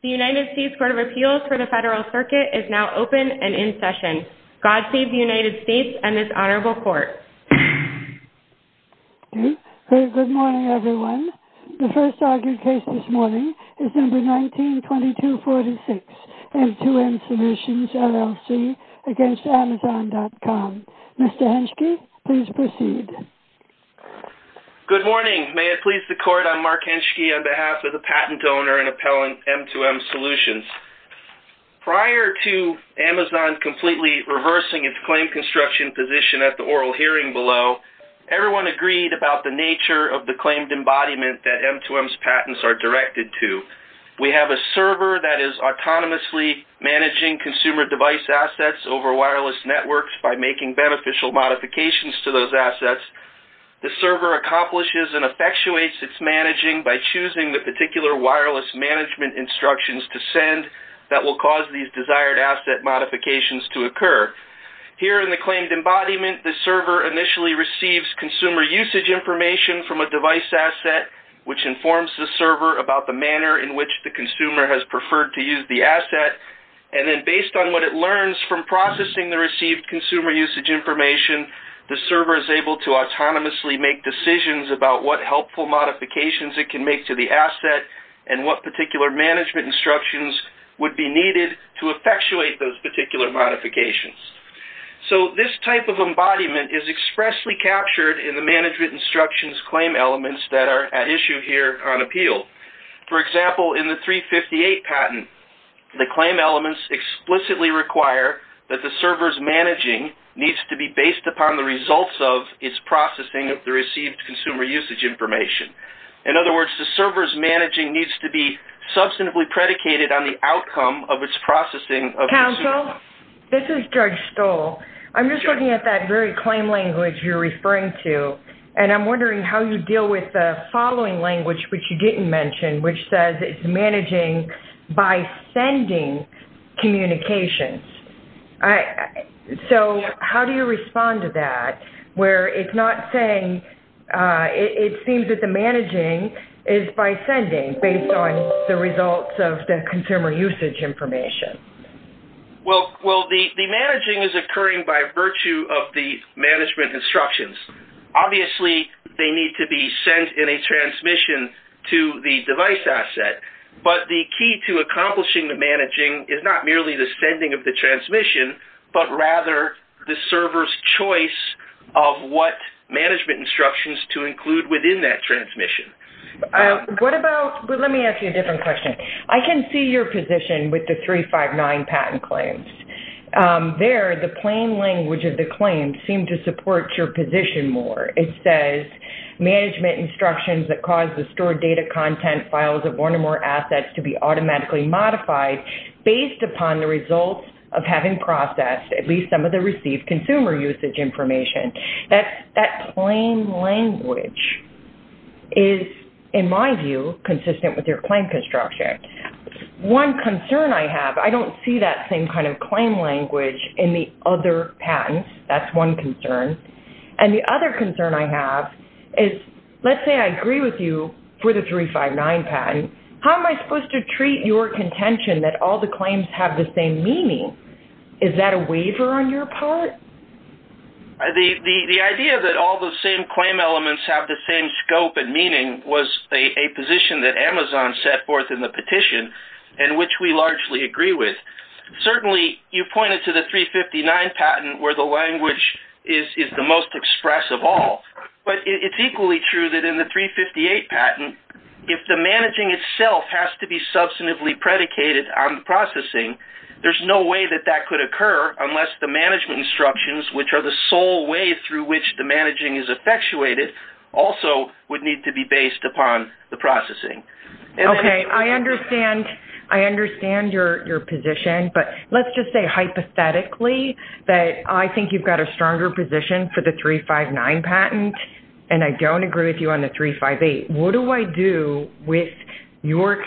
The United States Court of Appeals for the Federal Circuit is now open and in session. God save the United States and this honorable court. Okay, good morning everyone. The first argued case this morning is number 19-2246 M2M Solutions LLC v. Amazon.com. Mr. Henschke, please proceed. Good morning. May it please the court, I'm Mark Henschke on behalf of the patent owner and appellant M2M Solutions. Prior to Amazon completely reversing its claim construction position at the oral hearing below, everyone agreed about the nature of the claimed embodiment that M2M's patents are directed to. We have a server that is autonomously managing consumer device assets over wireless networks by making beneficial modifications to those assets. The server accomplishes and effectuates its managing by choosing the particular wireless management instructions to send that will cause these desired asset modifications to occur. Here in the claimed embodiment, the server initially receives consumer usage information from a device asset which informs the server about the manner in which the consumer has learned from processing the received consumer usage information. The server is able to autonomously make decisions about what helpful modifications it can make to the asset and what particular management instructions would be needed to effectuate those particular modifications. So this type of embodiment is expressly captured in the management instructions claim elements that at issue here on appeal. For example, in the 358 patent, the claim elements explicitly require that the server's managing needs to be based upon the results of its processing of the received consumer usage information. In other words, the server's managing needs to be substantively predicated on the outcome of its processing of its... Counsel, this is Judge Stoll. I'm just looking at that very claim language you're referring to and I'm wondering how you deal with the following language which you didn't mention which says it's managing by sending communications. So how do you respond to that where it's not saying it seems that the managing is by sending based on the results of the consumer usage information? Well, the managing is occurring by virtue of the management instructions. Obviously, they need to be sent in a transmission to the device asset but the key to accomplishing the managing is not merely the sending of the transmission but rather the server's choice of what management instructions to include within that transmission. What about... Let me ask you a different question. I can see your position with the 359 patent claims. There, the plain language of the claim seemed to support your position more. It says management instructions that cause the stored data content files of one or more assets to be automatically modified based upon the results of having processed at least some of the received consumer usage information. That plain language is, in my view, consistent with your claim infrastructure. One concern I have, I don't see that same kind of claim language in the other patents. That's one concern. The other concern I have is, let's say I agree with you for the 359 patent. How am I supposed to treat your contention that all the claims have the same meaning? Is that a waiver on your part? The idea that all the same claim elements have the same scope and the petition, which we largely agree with. Certainly, you pointed to the 359 patent where the language is the most expressive of all. It's equally true that in the 358 patent, if the managing itself has to be substantively predicated on processing, there's no way that that could occur unless the management instructions, which are the sole way through which the managing is effectuated, also would need to be based upon the processing. Okay. I understand your position, but let's just say hypothetically that I think you've got a stronger position for the 359 patent, and I don't agree with you on the 358. What do I do with your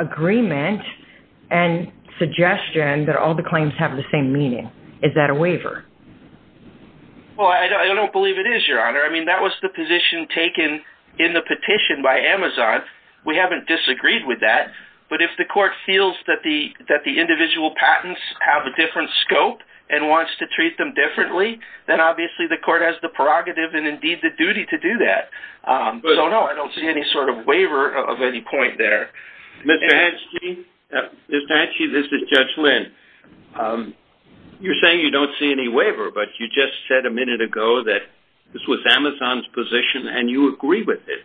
agreement and suggestion that all the claims have the same meaning? Is that a waiver? Well, I don't believe it is, Your Honor. That was the position taken in the petition by Amazon. We haven't disagreed with that, but if the court feels that the individual patents have a different scope and wants to treat them differently, then obviously the court has the prerogative and indeed the duty to do that. So, no, I don't see any sort of waiver of any point there. Mr. Hatchee, this is Judge Lynn. You're saying you don't see any waiver, but you just said a minute ago that this was Amazon's position, and you agree with it.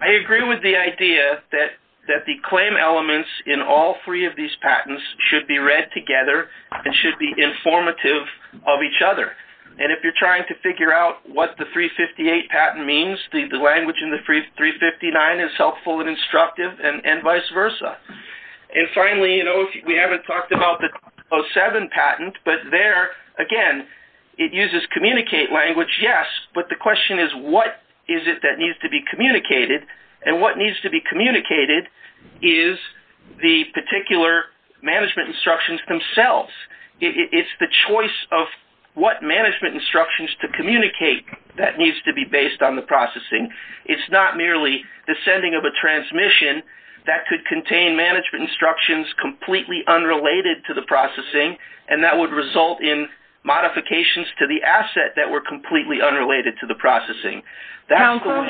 I agree with the idea that the claim elements in all three of these patents should be read together and should be informative of each other. And if you're trying to figure out what the 358 patent means, the language in the 359 is helpful and instructive and vice versa. And finally, we haven't talked about the 307 patent, but there, again, it uses communicate language, yes, but the question is, what is it that needs to be communicated? And what needs to be communicated is the particular management instructions themselves. It's the choice of what management instructions to communicate that needs to be based on the processing. It's not merely the transmission that could contain management instructions completely unrelated to the processing, and that would result in modifications to the asset that were completely unrelated to the processing. Counselor?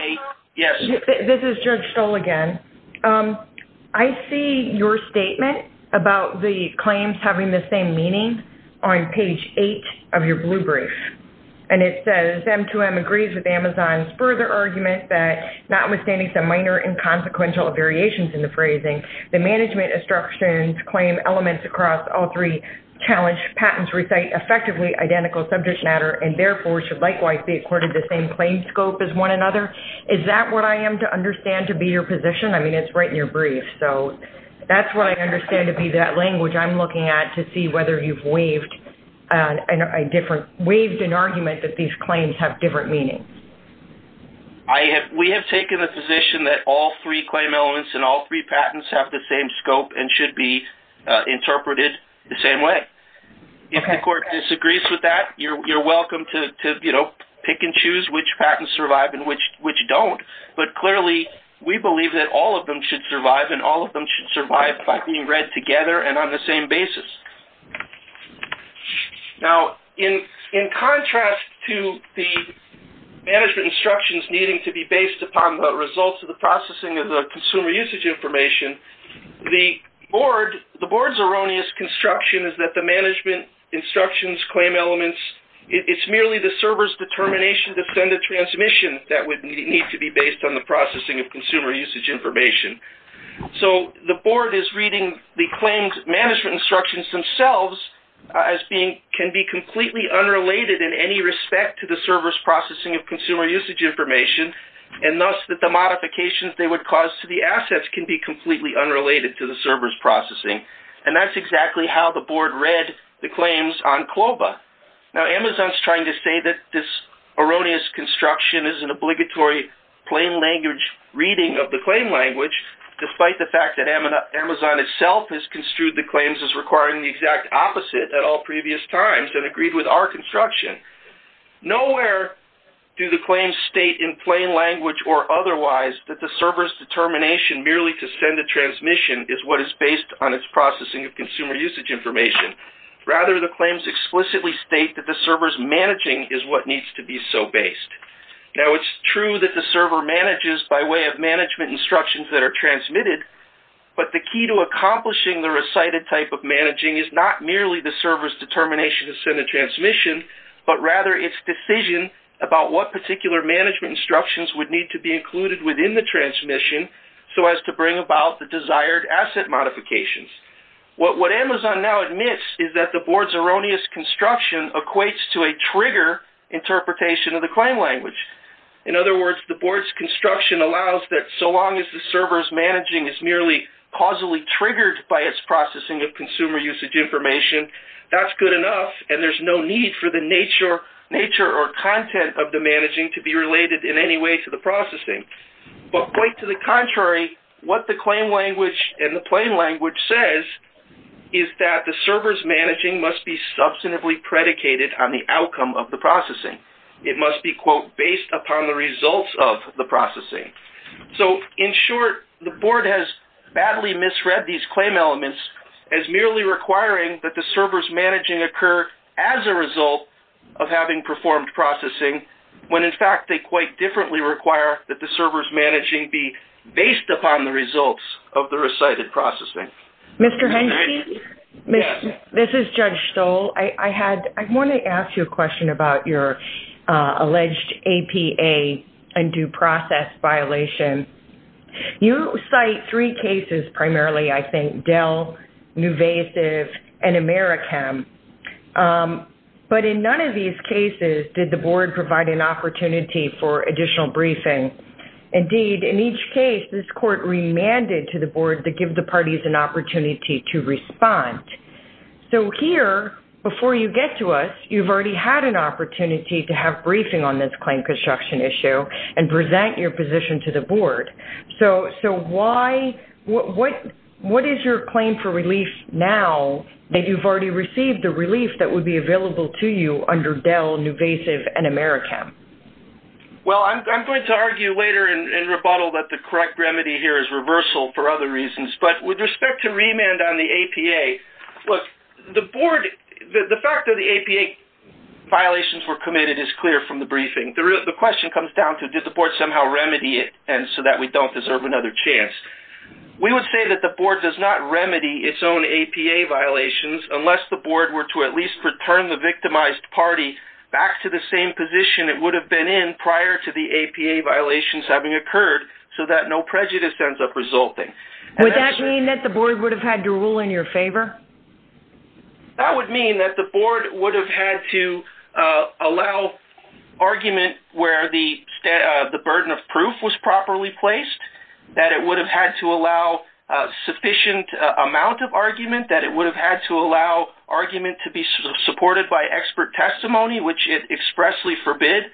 Yes. This is Judge Stoll again. I see your statement about the claims having the same meaning on page eight of your blue brief. And it says, M2M agrees with Amazon's further argument that notwithstanding some minor and consequential variations in the phrasing, the management instructions claim elements across all three challenge patents recite effectively identical subject matter and therefore should likewise be accorded the same claim scope as one another. Is that what I am to understand to be your position? I mean, it's right in your brief. So that's what I understand to be that language I'm looking at to see whether you've waived an argument that these claims have different meanings. We have taken the position that all three claim elements and all three patents have the same scope and should be interpreted the same way. If the court disagrees with that, you're welcome to pick and choose which patents survive and which don't. But clearly, we believe that all of them should be equal. Now, in contrast to the management instructions needing to be based upon the results of the processing of the consumer usage information, the board's erroneous construction is that the management instructions claim elements, it's merely the server's determination to send a transmission that would need to be based on the processing of consumer usage information. So the board is reading the claims management instructions themselves as being can be completely unrelated in any respect to the server's processing of consumer usage information and thus that the modifications they would cause to the assets can be completely unrelated to the server's processing. And that's exactly how the board read the claims on Clova. Now, Amazon's trying to say that this erroneous construction is an obligatory plain language reading of the claim despite the fact that Amazon itself has construed the claims as requiring the exact opposite at all previous times and agreed with our construction. Nowhere do the claims state in plain language or otherwise that the server's determination merely to send a transmission is what is based on its processing of consumer usage information. Rather, the claims explicitly state that the server's managing is what needs to be so based. Now, it's true that the server manages by way of management instructions that are transmitted but the key to accomplishing the recited type of managing is not merely the server's determination to send a transmission but rather its decision about what particular management instructions would need to be included within the transmission so as to bring about the desired asset modifications. What Amazon now admits is that the board's erroneous construction equates to a trigger interpretation of the claim language. In other words, the board's construction allows that so long as the server's managing is merely causally triggered by its processing of consumer usage information, that's good enough and there's no need for the nature or content of the managing to be related in any way to the processing. But quite to the contrary, what the claim language and the plain language says is that the server's managing must be substantively predicated on the outcome of the processing. It must be, quote, based upon the results of the processing. So, in short, the board has badly misread these claim elements as merely requiring that the server's managing occur as a result of having performed processing when, in fact, they quite differently require that the server's managing be based upon the results of the recited processing. Mr. Henke, this is Judge Stoll. I want to ask you a question about your alleged APA and due process violation. You cite three cases primarily, I think, Dell, Nuvasiv, and Americhem. But in none of these cases did the board provide an opportunity for additional briefing. Indeed, in each case, this court remanded to the board to give the parties an opportunity to respond. So, here, before you get to us, you've already had an opportunity to have briefing on this claim construction issue and present your position to the board. So, what is your claim for relief now that you've already received the relief that would be available to you under Dell, Nuvasiv, and Americhem? Well, I'm going to argue later in rebuttal that the correct remedy here is reversal for other reasons. But with respect to remand on the APA, look, the fact that the APA violations were committed is clear from the briefing. The question comes down to did the board somehow remedy it so that we don't deserve another chance. We would say that the board does not remedy its own APA violations unless the board were to at least return the victimized party back to the same position it would have been in prior to the APA violations having occurred so that no prejudice ends up resulting. Would that mean that the board would have had to rule in your favor? That would mean that the board would have had to allow argument where the burden of proof was properly placed, that it would have had to allow a sufficient amount of argument, that it would have had to allow argument to be supported by expert testimony, which it expressly forbid.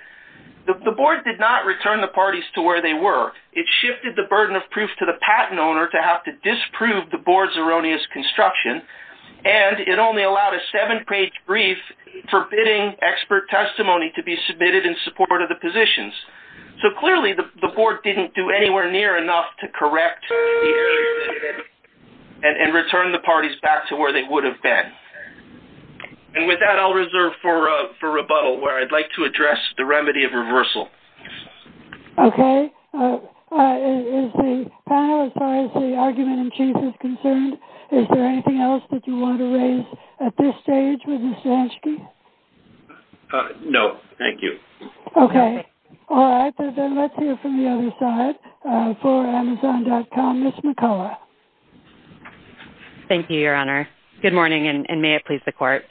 The board did not return the parties to where they were. It shifted the burden of proof to the patent owner to have to disprove the board's erroneous construction, and it only allowed a seven-page brief forbidding expert testimony to be submitted in support of the positions. So clearly the board didn't do anywhere near enough to correct and return the parties back to where they would have been. And with that, I'll reserve for rebuttal where I'd like to the remedy of reversal. Okay. Is the panel, as far as the argument in chief is concerned, is there anything else that you want to raise at this stage with Ms. Stansky? No, thank you. Okay. All right. Then let's hear from the other side. For amazon.com, Ms. McCullough. Thank you, your honor. Good morning, and may it please the court.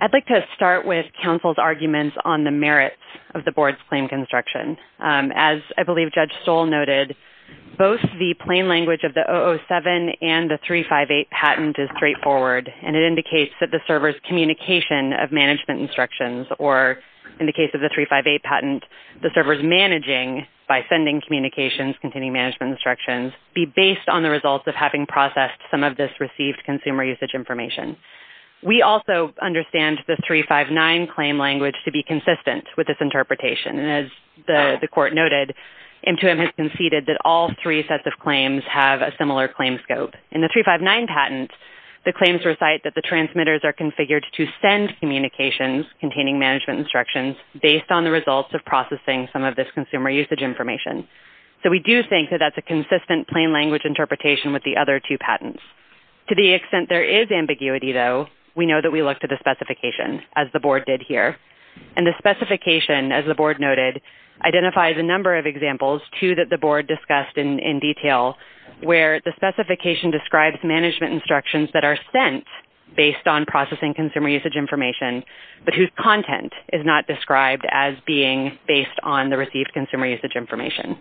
I'd like to start with merits of the board's claim construction. As I believe Judge Stoll noted, both the plain language of the 007 and the 358 patent is straightforward, and it indicates that the server's communication of management instructions, or in the case of the 358 patent, the server's managing by sending communications, continuing management instructions, be based on the results of having processed some of this received consumer usage information. We also understand the 359 claim language to be consistent with this interpretation, and as the court noted, M2M has conceded that all three sets of claims have a similar claim scope. In the 359 patent, the claims recite that the transmitters are configured to send communications containing management instructions based on the results of processing some of this consumer usage information. So we do think that that's a consistent plain language interpretation with the other two patents. To the extent there is ambiguity, though, we know that we looked at the specification, as the board did here, and the specification, as the board noted, identifies a number of examples, two that the board discussed in detail, where the specification describes management instructions that are sent based on processing consumer usage information, but whose content is not described as being based on the received consumer usage information.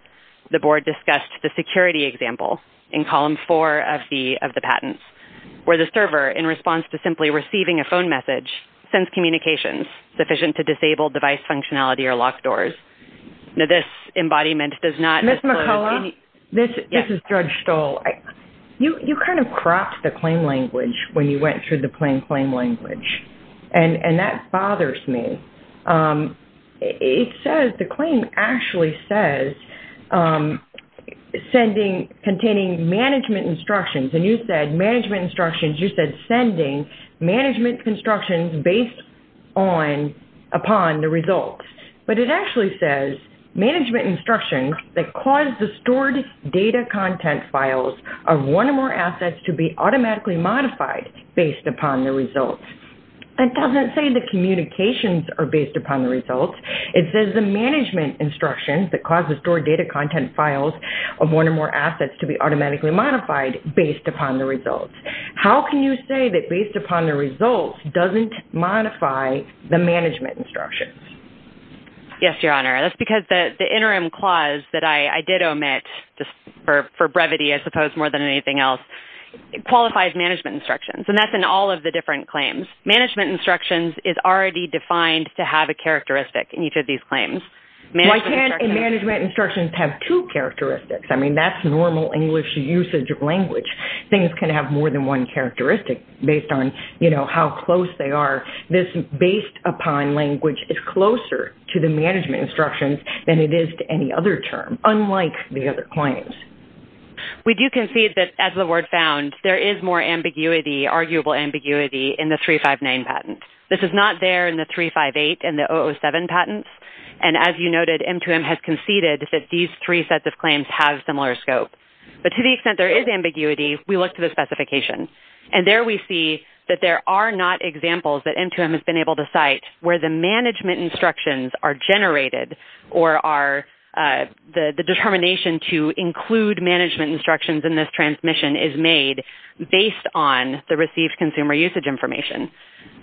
The board discussed the security example in column four of the patents, where the server, in response to simply receiving a phone message, sends communications sufficient to disable device functionality or lock doors. Now, this embodiment does not... Ms. McCullough? This is Judge Stoll. You kind of cropped the claim language when you went through the plain claim language, and that bothers me. It says, the claim actually says, containing management instructions, and you said management instructions, you said sending management instructions based upon the results, but it actually says, management instructions that cause the stored data content files of one or more assets to be automatically modified based upon the results. That doesn't say the communications are based upon the results. It says the management instructions that cause the stored data content files of one or more assets to be automatically modified based upon the results. How can you say that based upon the results doesn't modify the management instructions? Yes, Your Honor. That's because the interim clause that I did omit, just for brevity, I suppose, more than anything else, qualifies management instructions, and that's in all of the different claims. Management instructions is already defined to have a characteristic in each of these claims. Why can't management instructions have two characteristics? That's normal English usage of language. Things can have more than one characteristic based on how close they are. This based upon language is closer to the management instructions than it is to any other term, unlike the other claims. We do concede that, as the word found, there is more ambiguity, arguable ambiguity, in the 359 patent. This is not there in the 358 and 307 patents. As you noted, M2M has conceded that these three sets of claims have similar scope. But to the extent there is ambiguity, we look to the specification. There we see that there are not examples that M2M has been able to cite where the management instructions are generated or the determination to include management instructions in this transmission is made based on the received consumer usage information.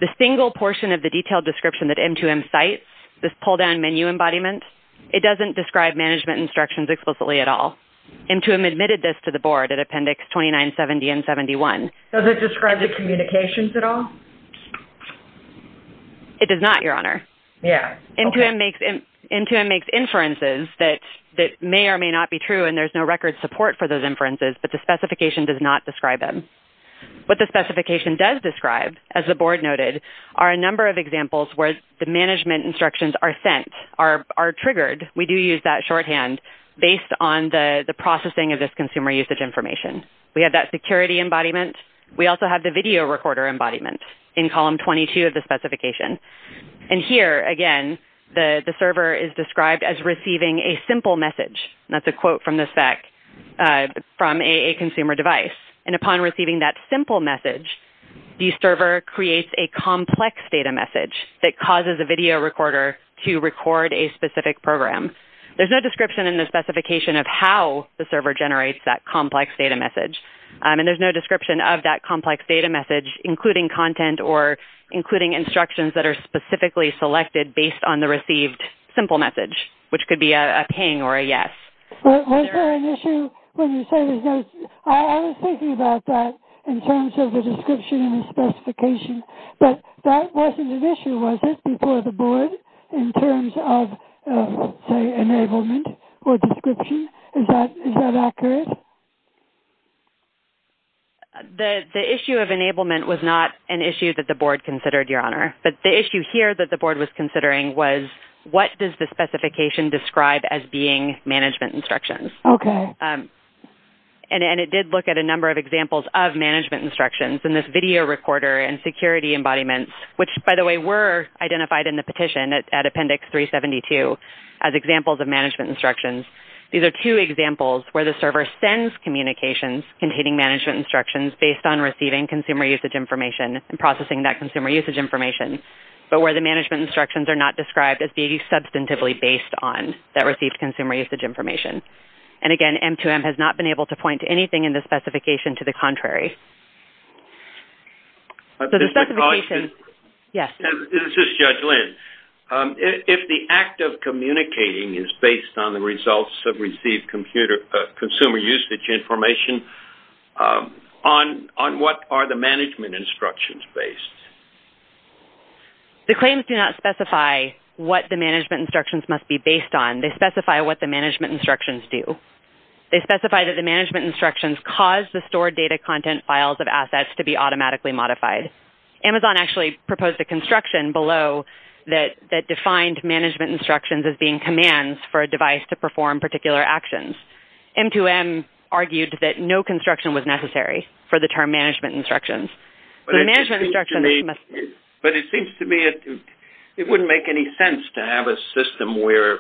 The single portion of the detailed description that M2M cites, this pull-down menu embodiment, it doesn't describe management instructions explicitly at all. M2M admitted this to the board at Appendix 2970 and 71. Does it describe the communications at all? It does not, Your Honor. Yeah. M2M makes inferences that may or may not be true, and there's no record support for those the board noted, are a number of examples where the management instructions are sent, are triggered. We do use that shorthand based on the processing of this consumer usage information. We have that security embodiment. We also have the video recorder embodiment in Column 22 of the specification. Here, again, the server is described as receiving a simple message. That's a quote from the spec from a consumer device. Upon receiving that simple message, the server creates a complex data message that causes a video recorder to record a specific program. There's no description in the specification of how the server generates that complex data message, and there's no description of that complex data message, including content or including instructions that are specifically selected based on the received simple message, which could be a ping or a yes. Was there an issue when you say there's no... I was thinking about that in terms of the description and the specification, but that wasn't an issue, was it, before the board in terms of, say, enablement or description? Is that accurate? The issue of enablement was not an issue that the board considered, Your Honor, but the issue here that the board was considering was what does the specification describe as being management instructions? It did look at a number of examples of management instructions in this video recorder and security embodiments, which, by the way, were identified in the petition at Appendix 372 as examples of management instructions. These are two examples where the server sends communications containing management instructions based on receiving consumer usage information and processing that consumer usage information, but where the management instructions are not information. Again, M2M has not been able to point to anything in the specification to the contrary. Yes? This is Judge Lynn. If the act of communicating is based on the results of received consumer usage information, on what are the management instructions based? The claims do not specify what the management instructions must be based on. They specify what the management instructions do. They specify that the management instructions cause the stored data content files of assets to be automatically modified. Amazon actually proposed a construction below that defined management instructions as being commands for a device to perform particular actions. M2M argued that no construction was necessary for the term management instructions. But it seems to me it wouldn't make any sense to have a system where,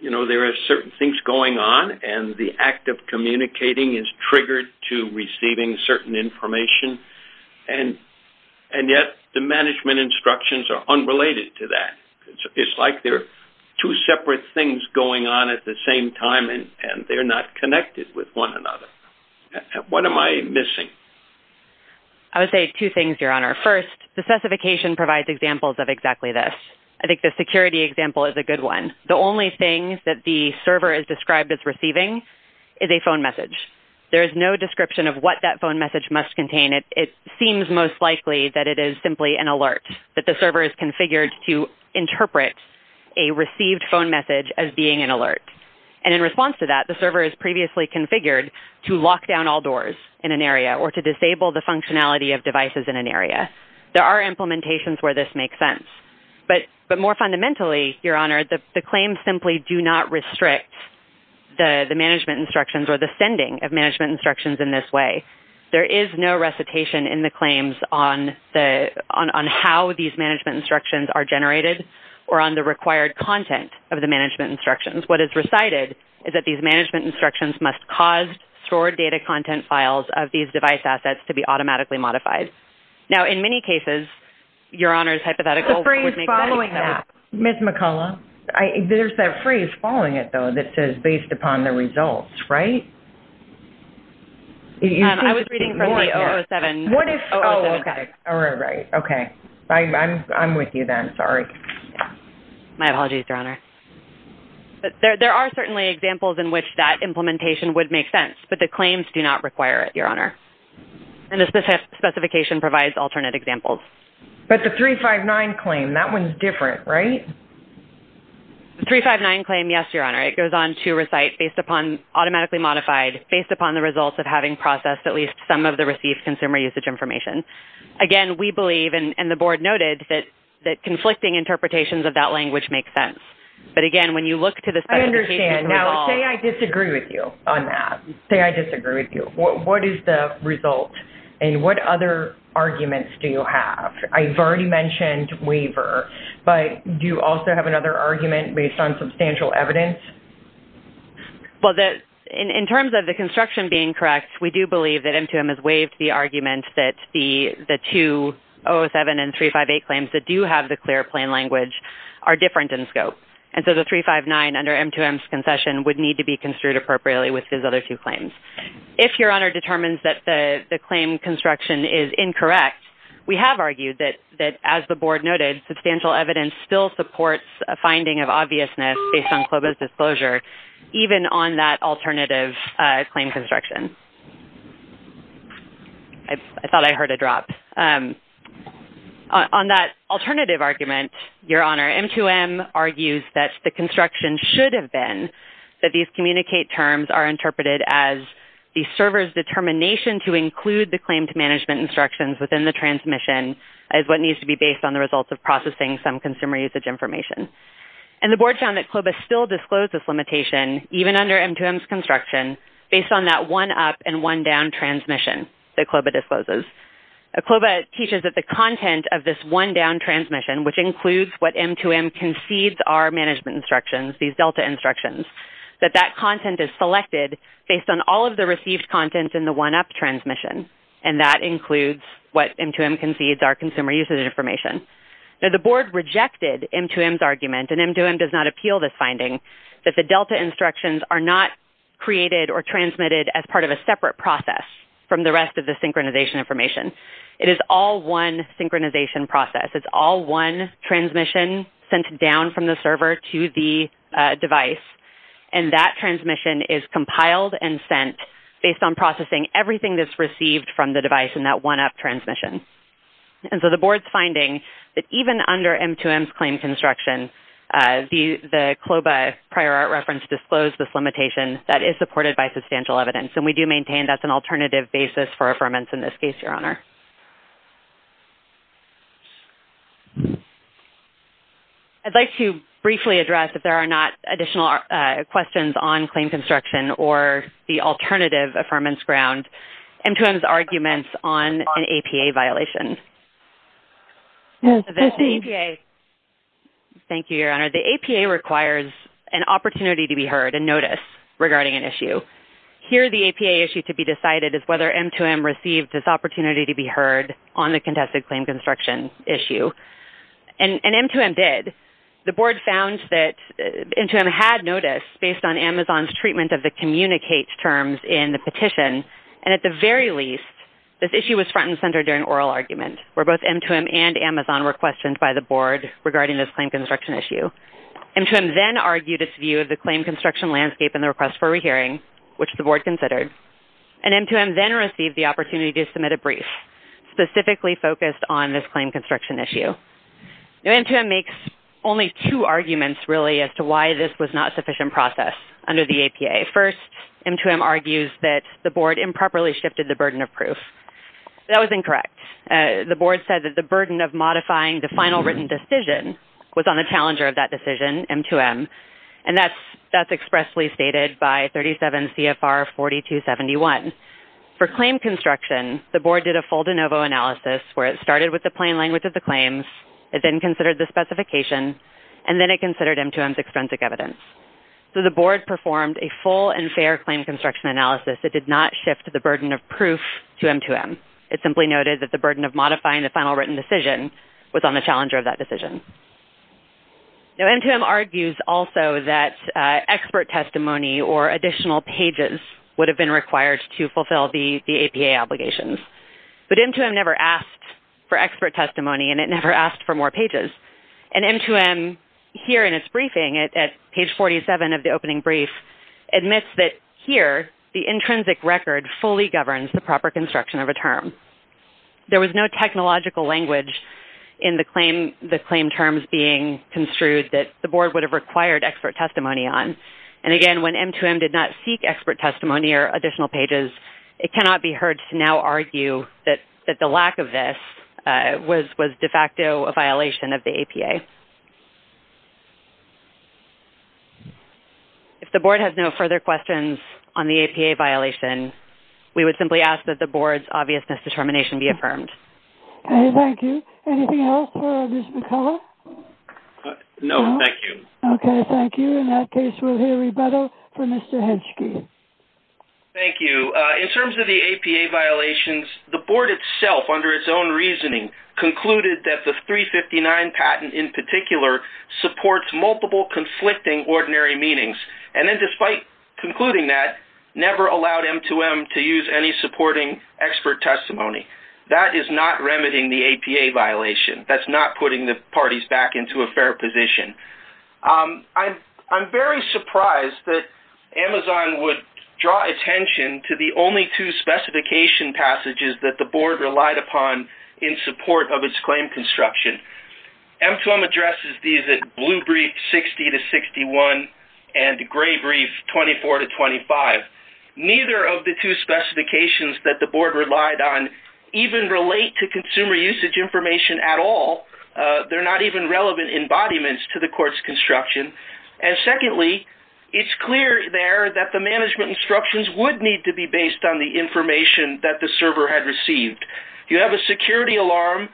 you know, there are certain things going on and the act of communicating is triggered to receiving certain information, and yet the management instructions are unrelated to that. It's like they're two separate things going on at the same time and they're not connected with one another. What am I missing? I would say two things, Your Honor. First, the specification provides examples of exactly this. I think the security example is a good one. The only thing that the server is described as receiving is a phone message. There is no description of what that phone message must contain. It seems most likely that it is simply an alert, that the server is configured to interpret a received phone message as being an alert. And in response to that, the server is previously configured to lock down all doors in an area or to disable the functionality of devices in an area. There are implementations where this makes sense. But more fundamentally, Your Honor, the claims simply do not restrict the management instructions or the sending of management instructions in this way. There is no recitation in the claims on how these management instructions are generated or on the required content of the management instructions. What is recited is that these management instructions must cause stored data content files of these device assets to be automatically modified. Now, in many cases, Your Honor's hypothetical would make sense. The phrase following that, Ms. McCullough, there's that phrase following it, though, that says based upon the results, right? I was reading from the 007. Oh, okay. All right. Okay. I'm with you then. Sorry. My apologies, Your Honor. There are certainly examples in which that implementation would make sense, but the claims do not require it, Your Honor. And the specification provides alternate examples. But the 359 claim, that one's different, right? The 359 claim, yes, Your Honor. It goes on to recite based upon automatically modified, based upon the results of having processed at least some of the received consumer usage information. Again, we believe, and the board noted, that conflicting interpretations of that language make sense. But again, when you look to the specification... I understand. Now, say I disagree with you on that. Say I disagree with you. What is the result? And what other arguments do you have? I've already mentioned waiver, but do you also have another argument based on substantial evidence? Well, in terms of the construction being correct, we do believe that M2M has waived the argument that the two 007 and 358 claims that do have the clear plain language are different in scope. And so the 359 under M2M's concession would need to be construed appropriately with his other two claims. If Your Honor determines that the claim construction is incorrect, we have argued that, as the board noted, substantial evidence still supports a finding of obviousness based on CLOBA's disclosure, even on that alternative claim construction. I thought I heard a drop. On that alternative argument, Your Honor, M2M argues that the construction should have been that these communicate terms are interpreted as the server's determination to include the claim to management instructions within the transmission as what needs to be based on the results of processing some consumer usage information. And the board found that CLOBA still disclosed this limitation, even under M2M's construction, based on that one-up and one-down transmission that CLOBA discloses. CLOBA teaches that the content of this one-down transmission, which includes what M2M concedes are management instructions, these delta instructions, that that content is selected based on all of the received content in the one-up transmission, and that includes what M2M does not appeal this finding, that the delta instructions are not created or transmitted as part of a separate process from the rest of the synchronization information. It is all one synchronization process. It's all one transmission sent down from the server to the device, and that transmission is compiled and sent based on processing everything that's received from the device in that one-up transmission. And so the board's finding that even under M2M's construction, the CLOBA prior art reference disclosed this limitation that is supported by substantial evidence, and we do maintain that's an alternative basis for affirmance in this case, Your Honor. I'd like to briefly address, if there are not additional questions on claim construction or the alternative affirmance ground, M2M's arguments on an APA violation. Thank you, Your Honor. The APA requires an opportunity to be heard and notice regarding an issue. Here, the APA issue to be decided is whether M2M received this opportunity to be heard on the contested claim construction issue, and M2M did. The board found that M2M had notice based on Amazon's treatment of the communicate terms in the petition, and at the very least, this issue was front and center during oral argument, where both M2M and Amazon were questioned by the board regarding this claim construction issue. M2M then argued its view of the claim construction landscape and the request for a hearing, which the board considered, and M2M then received the opportunity to submit a brief specifically focused on this claim construction issue. Now, M2M makes only two arguments, really, as to why this was not under the APA. First, M2M argues that the board improperly shifted the burden of proof. That was incorrect. The board said that the burden of modifying the final written decision was on the challenger of that decision, M2M, and that's expressly stated by 37 CFR 4271. For claim construction, the board did a full de novo analysis, where it started with the plain language of the claims, it then considered the specification, and then it considered M2M's So, the board performed a full and fair claim construction analysis that did not shift the burden of proof to M2M. It simply noted that the burden of modifying the final written decision was on the challenger of that decision. Now, M2M argues also that expert testimony or additional pages would have been required to fulfill the APA obligations, but M2M never asked for expert testimony, and it never asked for more pages. And M2M, here in its briefing, at page 47 of the opening brief, admits that here, the intrinsic record fully governs the proper construction of a term. There was no technological language in the claim terms being construed that the board would have required expert testimony on. And again, when M2M did not seek expert testimony, it was de facto a violation of the APA. If the board has no further questions on the APA violation, we would simply ask that the board's obvious misdetermination be affirmed. Okay, thank you. Anything else for Ms. McCullough? No, thank you. Okay, thank you. In that case, we'll hear a rebuttal from Mr. Hedgeski. Thank you. In terms of the APA violations, the board itself, under its own reasoning, concluded that the 359 patent, in particular, supports multiple conflicting ordinary meanings, and then despite concluding that, never allowed M2M to use any supporting expert testimony. That is not remedying the APA violation. That's not putting the parties back into a fair position. I'm very surprised that Amazon would draw attention to the only two specification passages that the board relied upon in support of its claim construction. M2M addresses these at blue brief 60 to 61 and gray brief 24 to 25. Neither of the two specifications that the board relied on even relate to consumer usage information at all. They're not even relevant embodiments to the court's construction. And secondly, it's clear there that the management instructions would need to be based on the information that the server had received. You have a security alarm,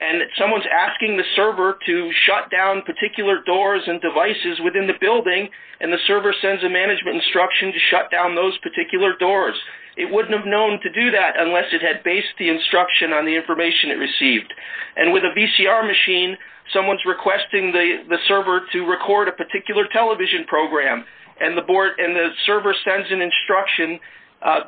and someone's asking the server to shut down particular doors and devices within the building, and the server sends a management instruction to shut down those particular doors. It wouldn't have known to do that unless it had based the instruction on the information it received. And with a VCR machine, someone's requesting the server to record a particular television program, and the server sends an instruction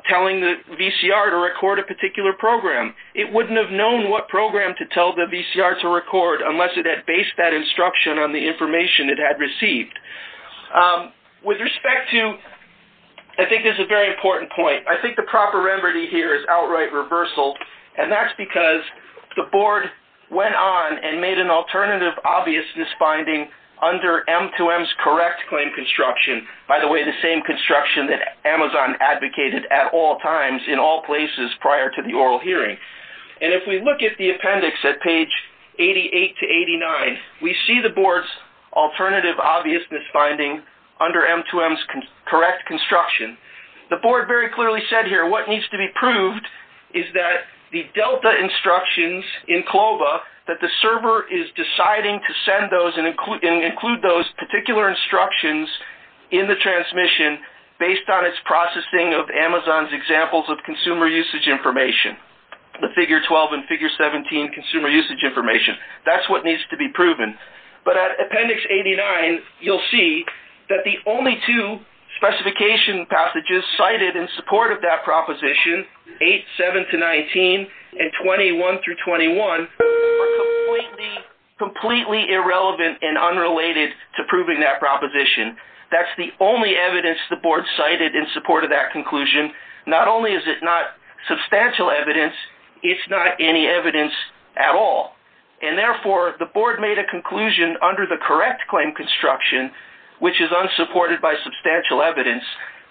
telling the VCR to record a particular program. It wouldn't have known what program to tell the VCR to record unless it had based that instruction on the information it had received. With respect to... I think this is a very important point. I think the proper remedy here is outright reversal, and that's because the board went on and made an alternative obviousness finding under M2M's correct claim construction. By the way, the same construction that Amazon advocated at all times in all places prior to the oral hearing. And if we look at the appendix at page 88 to 89, we see the board's alternative obviousness finding under M2M's correct construction. The board very clearly said here what needs to be proved is that the Delta instructions in Clova that the server is deciding to send those and include those particular instructions in the transmission based on its processing of Amazon's examples of consumer usage information, the figure 12 and figure 17 consumer usage information. That's what needs to be proven. But at appendix 89, you'll see that the only two specification passages cited in support of that proposition, 8, 7 to 19, and 21 through 21, are completely irrelevant and unrelated to proving that proposition. That's the only evidence the board cited in support of that conclusion. Not only is it not substantial evidence, it's not any evidence at all. And therefore, the board made a conclusion under the correct claim construction, which is unsupported by substantial evidence.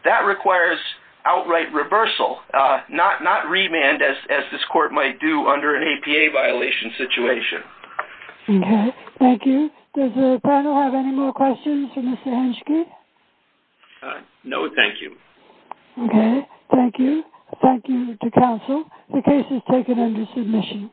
That requires outright reversal, not remand as this court might do under an APA violation situation. Okay, thank you. Does the panel have any more questions for Mr. Henschke? No, thank you. Okay, thank you. Thank you to counsel. The case is taken under submission.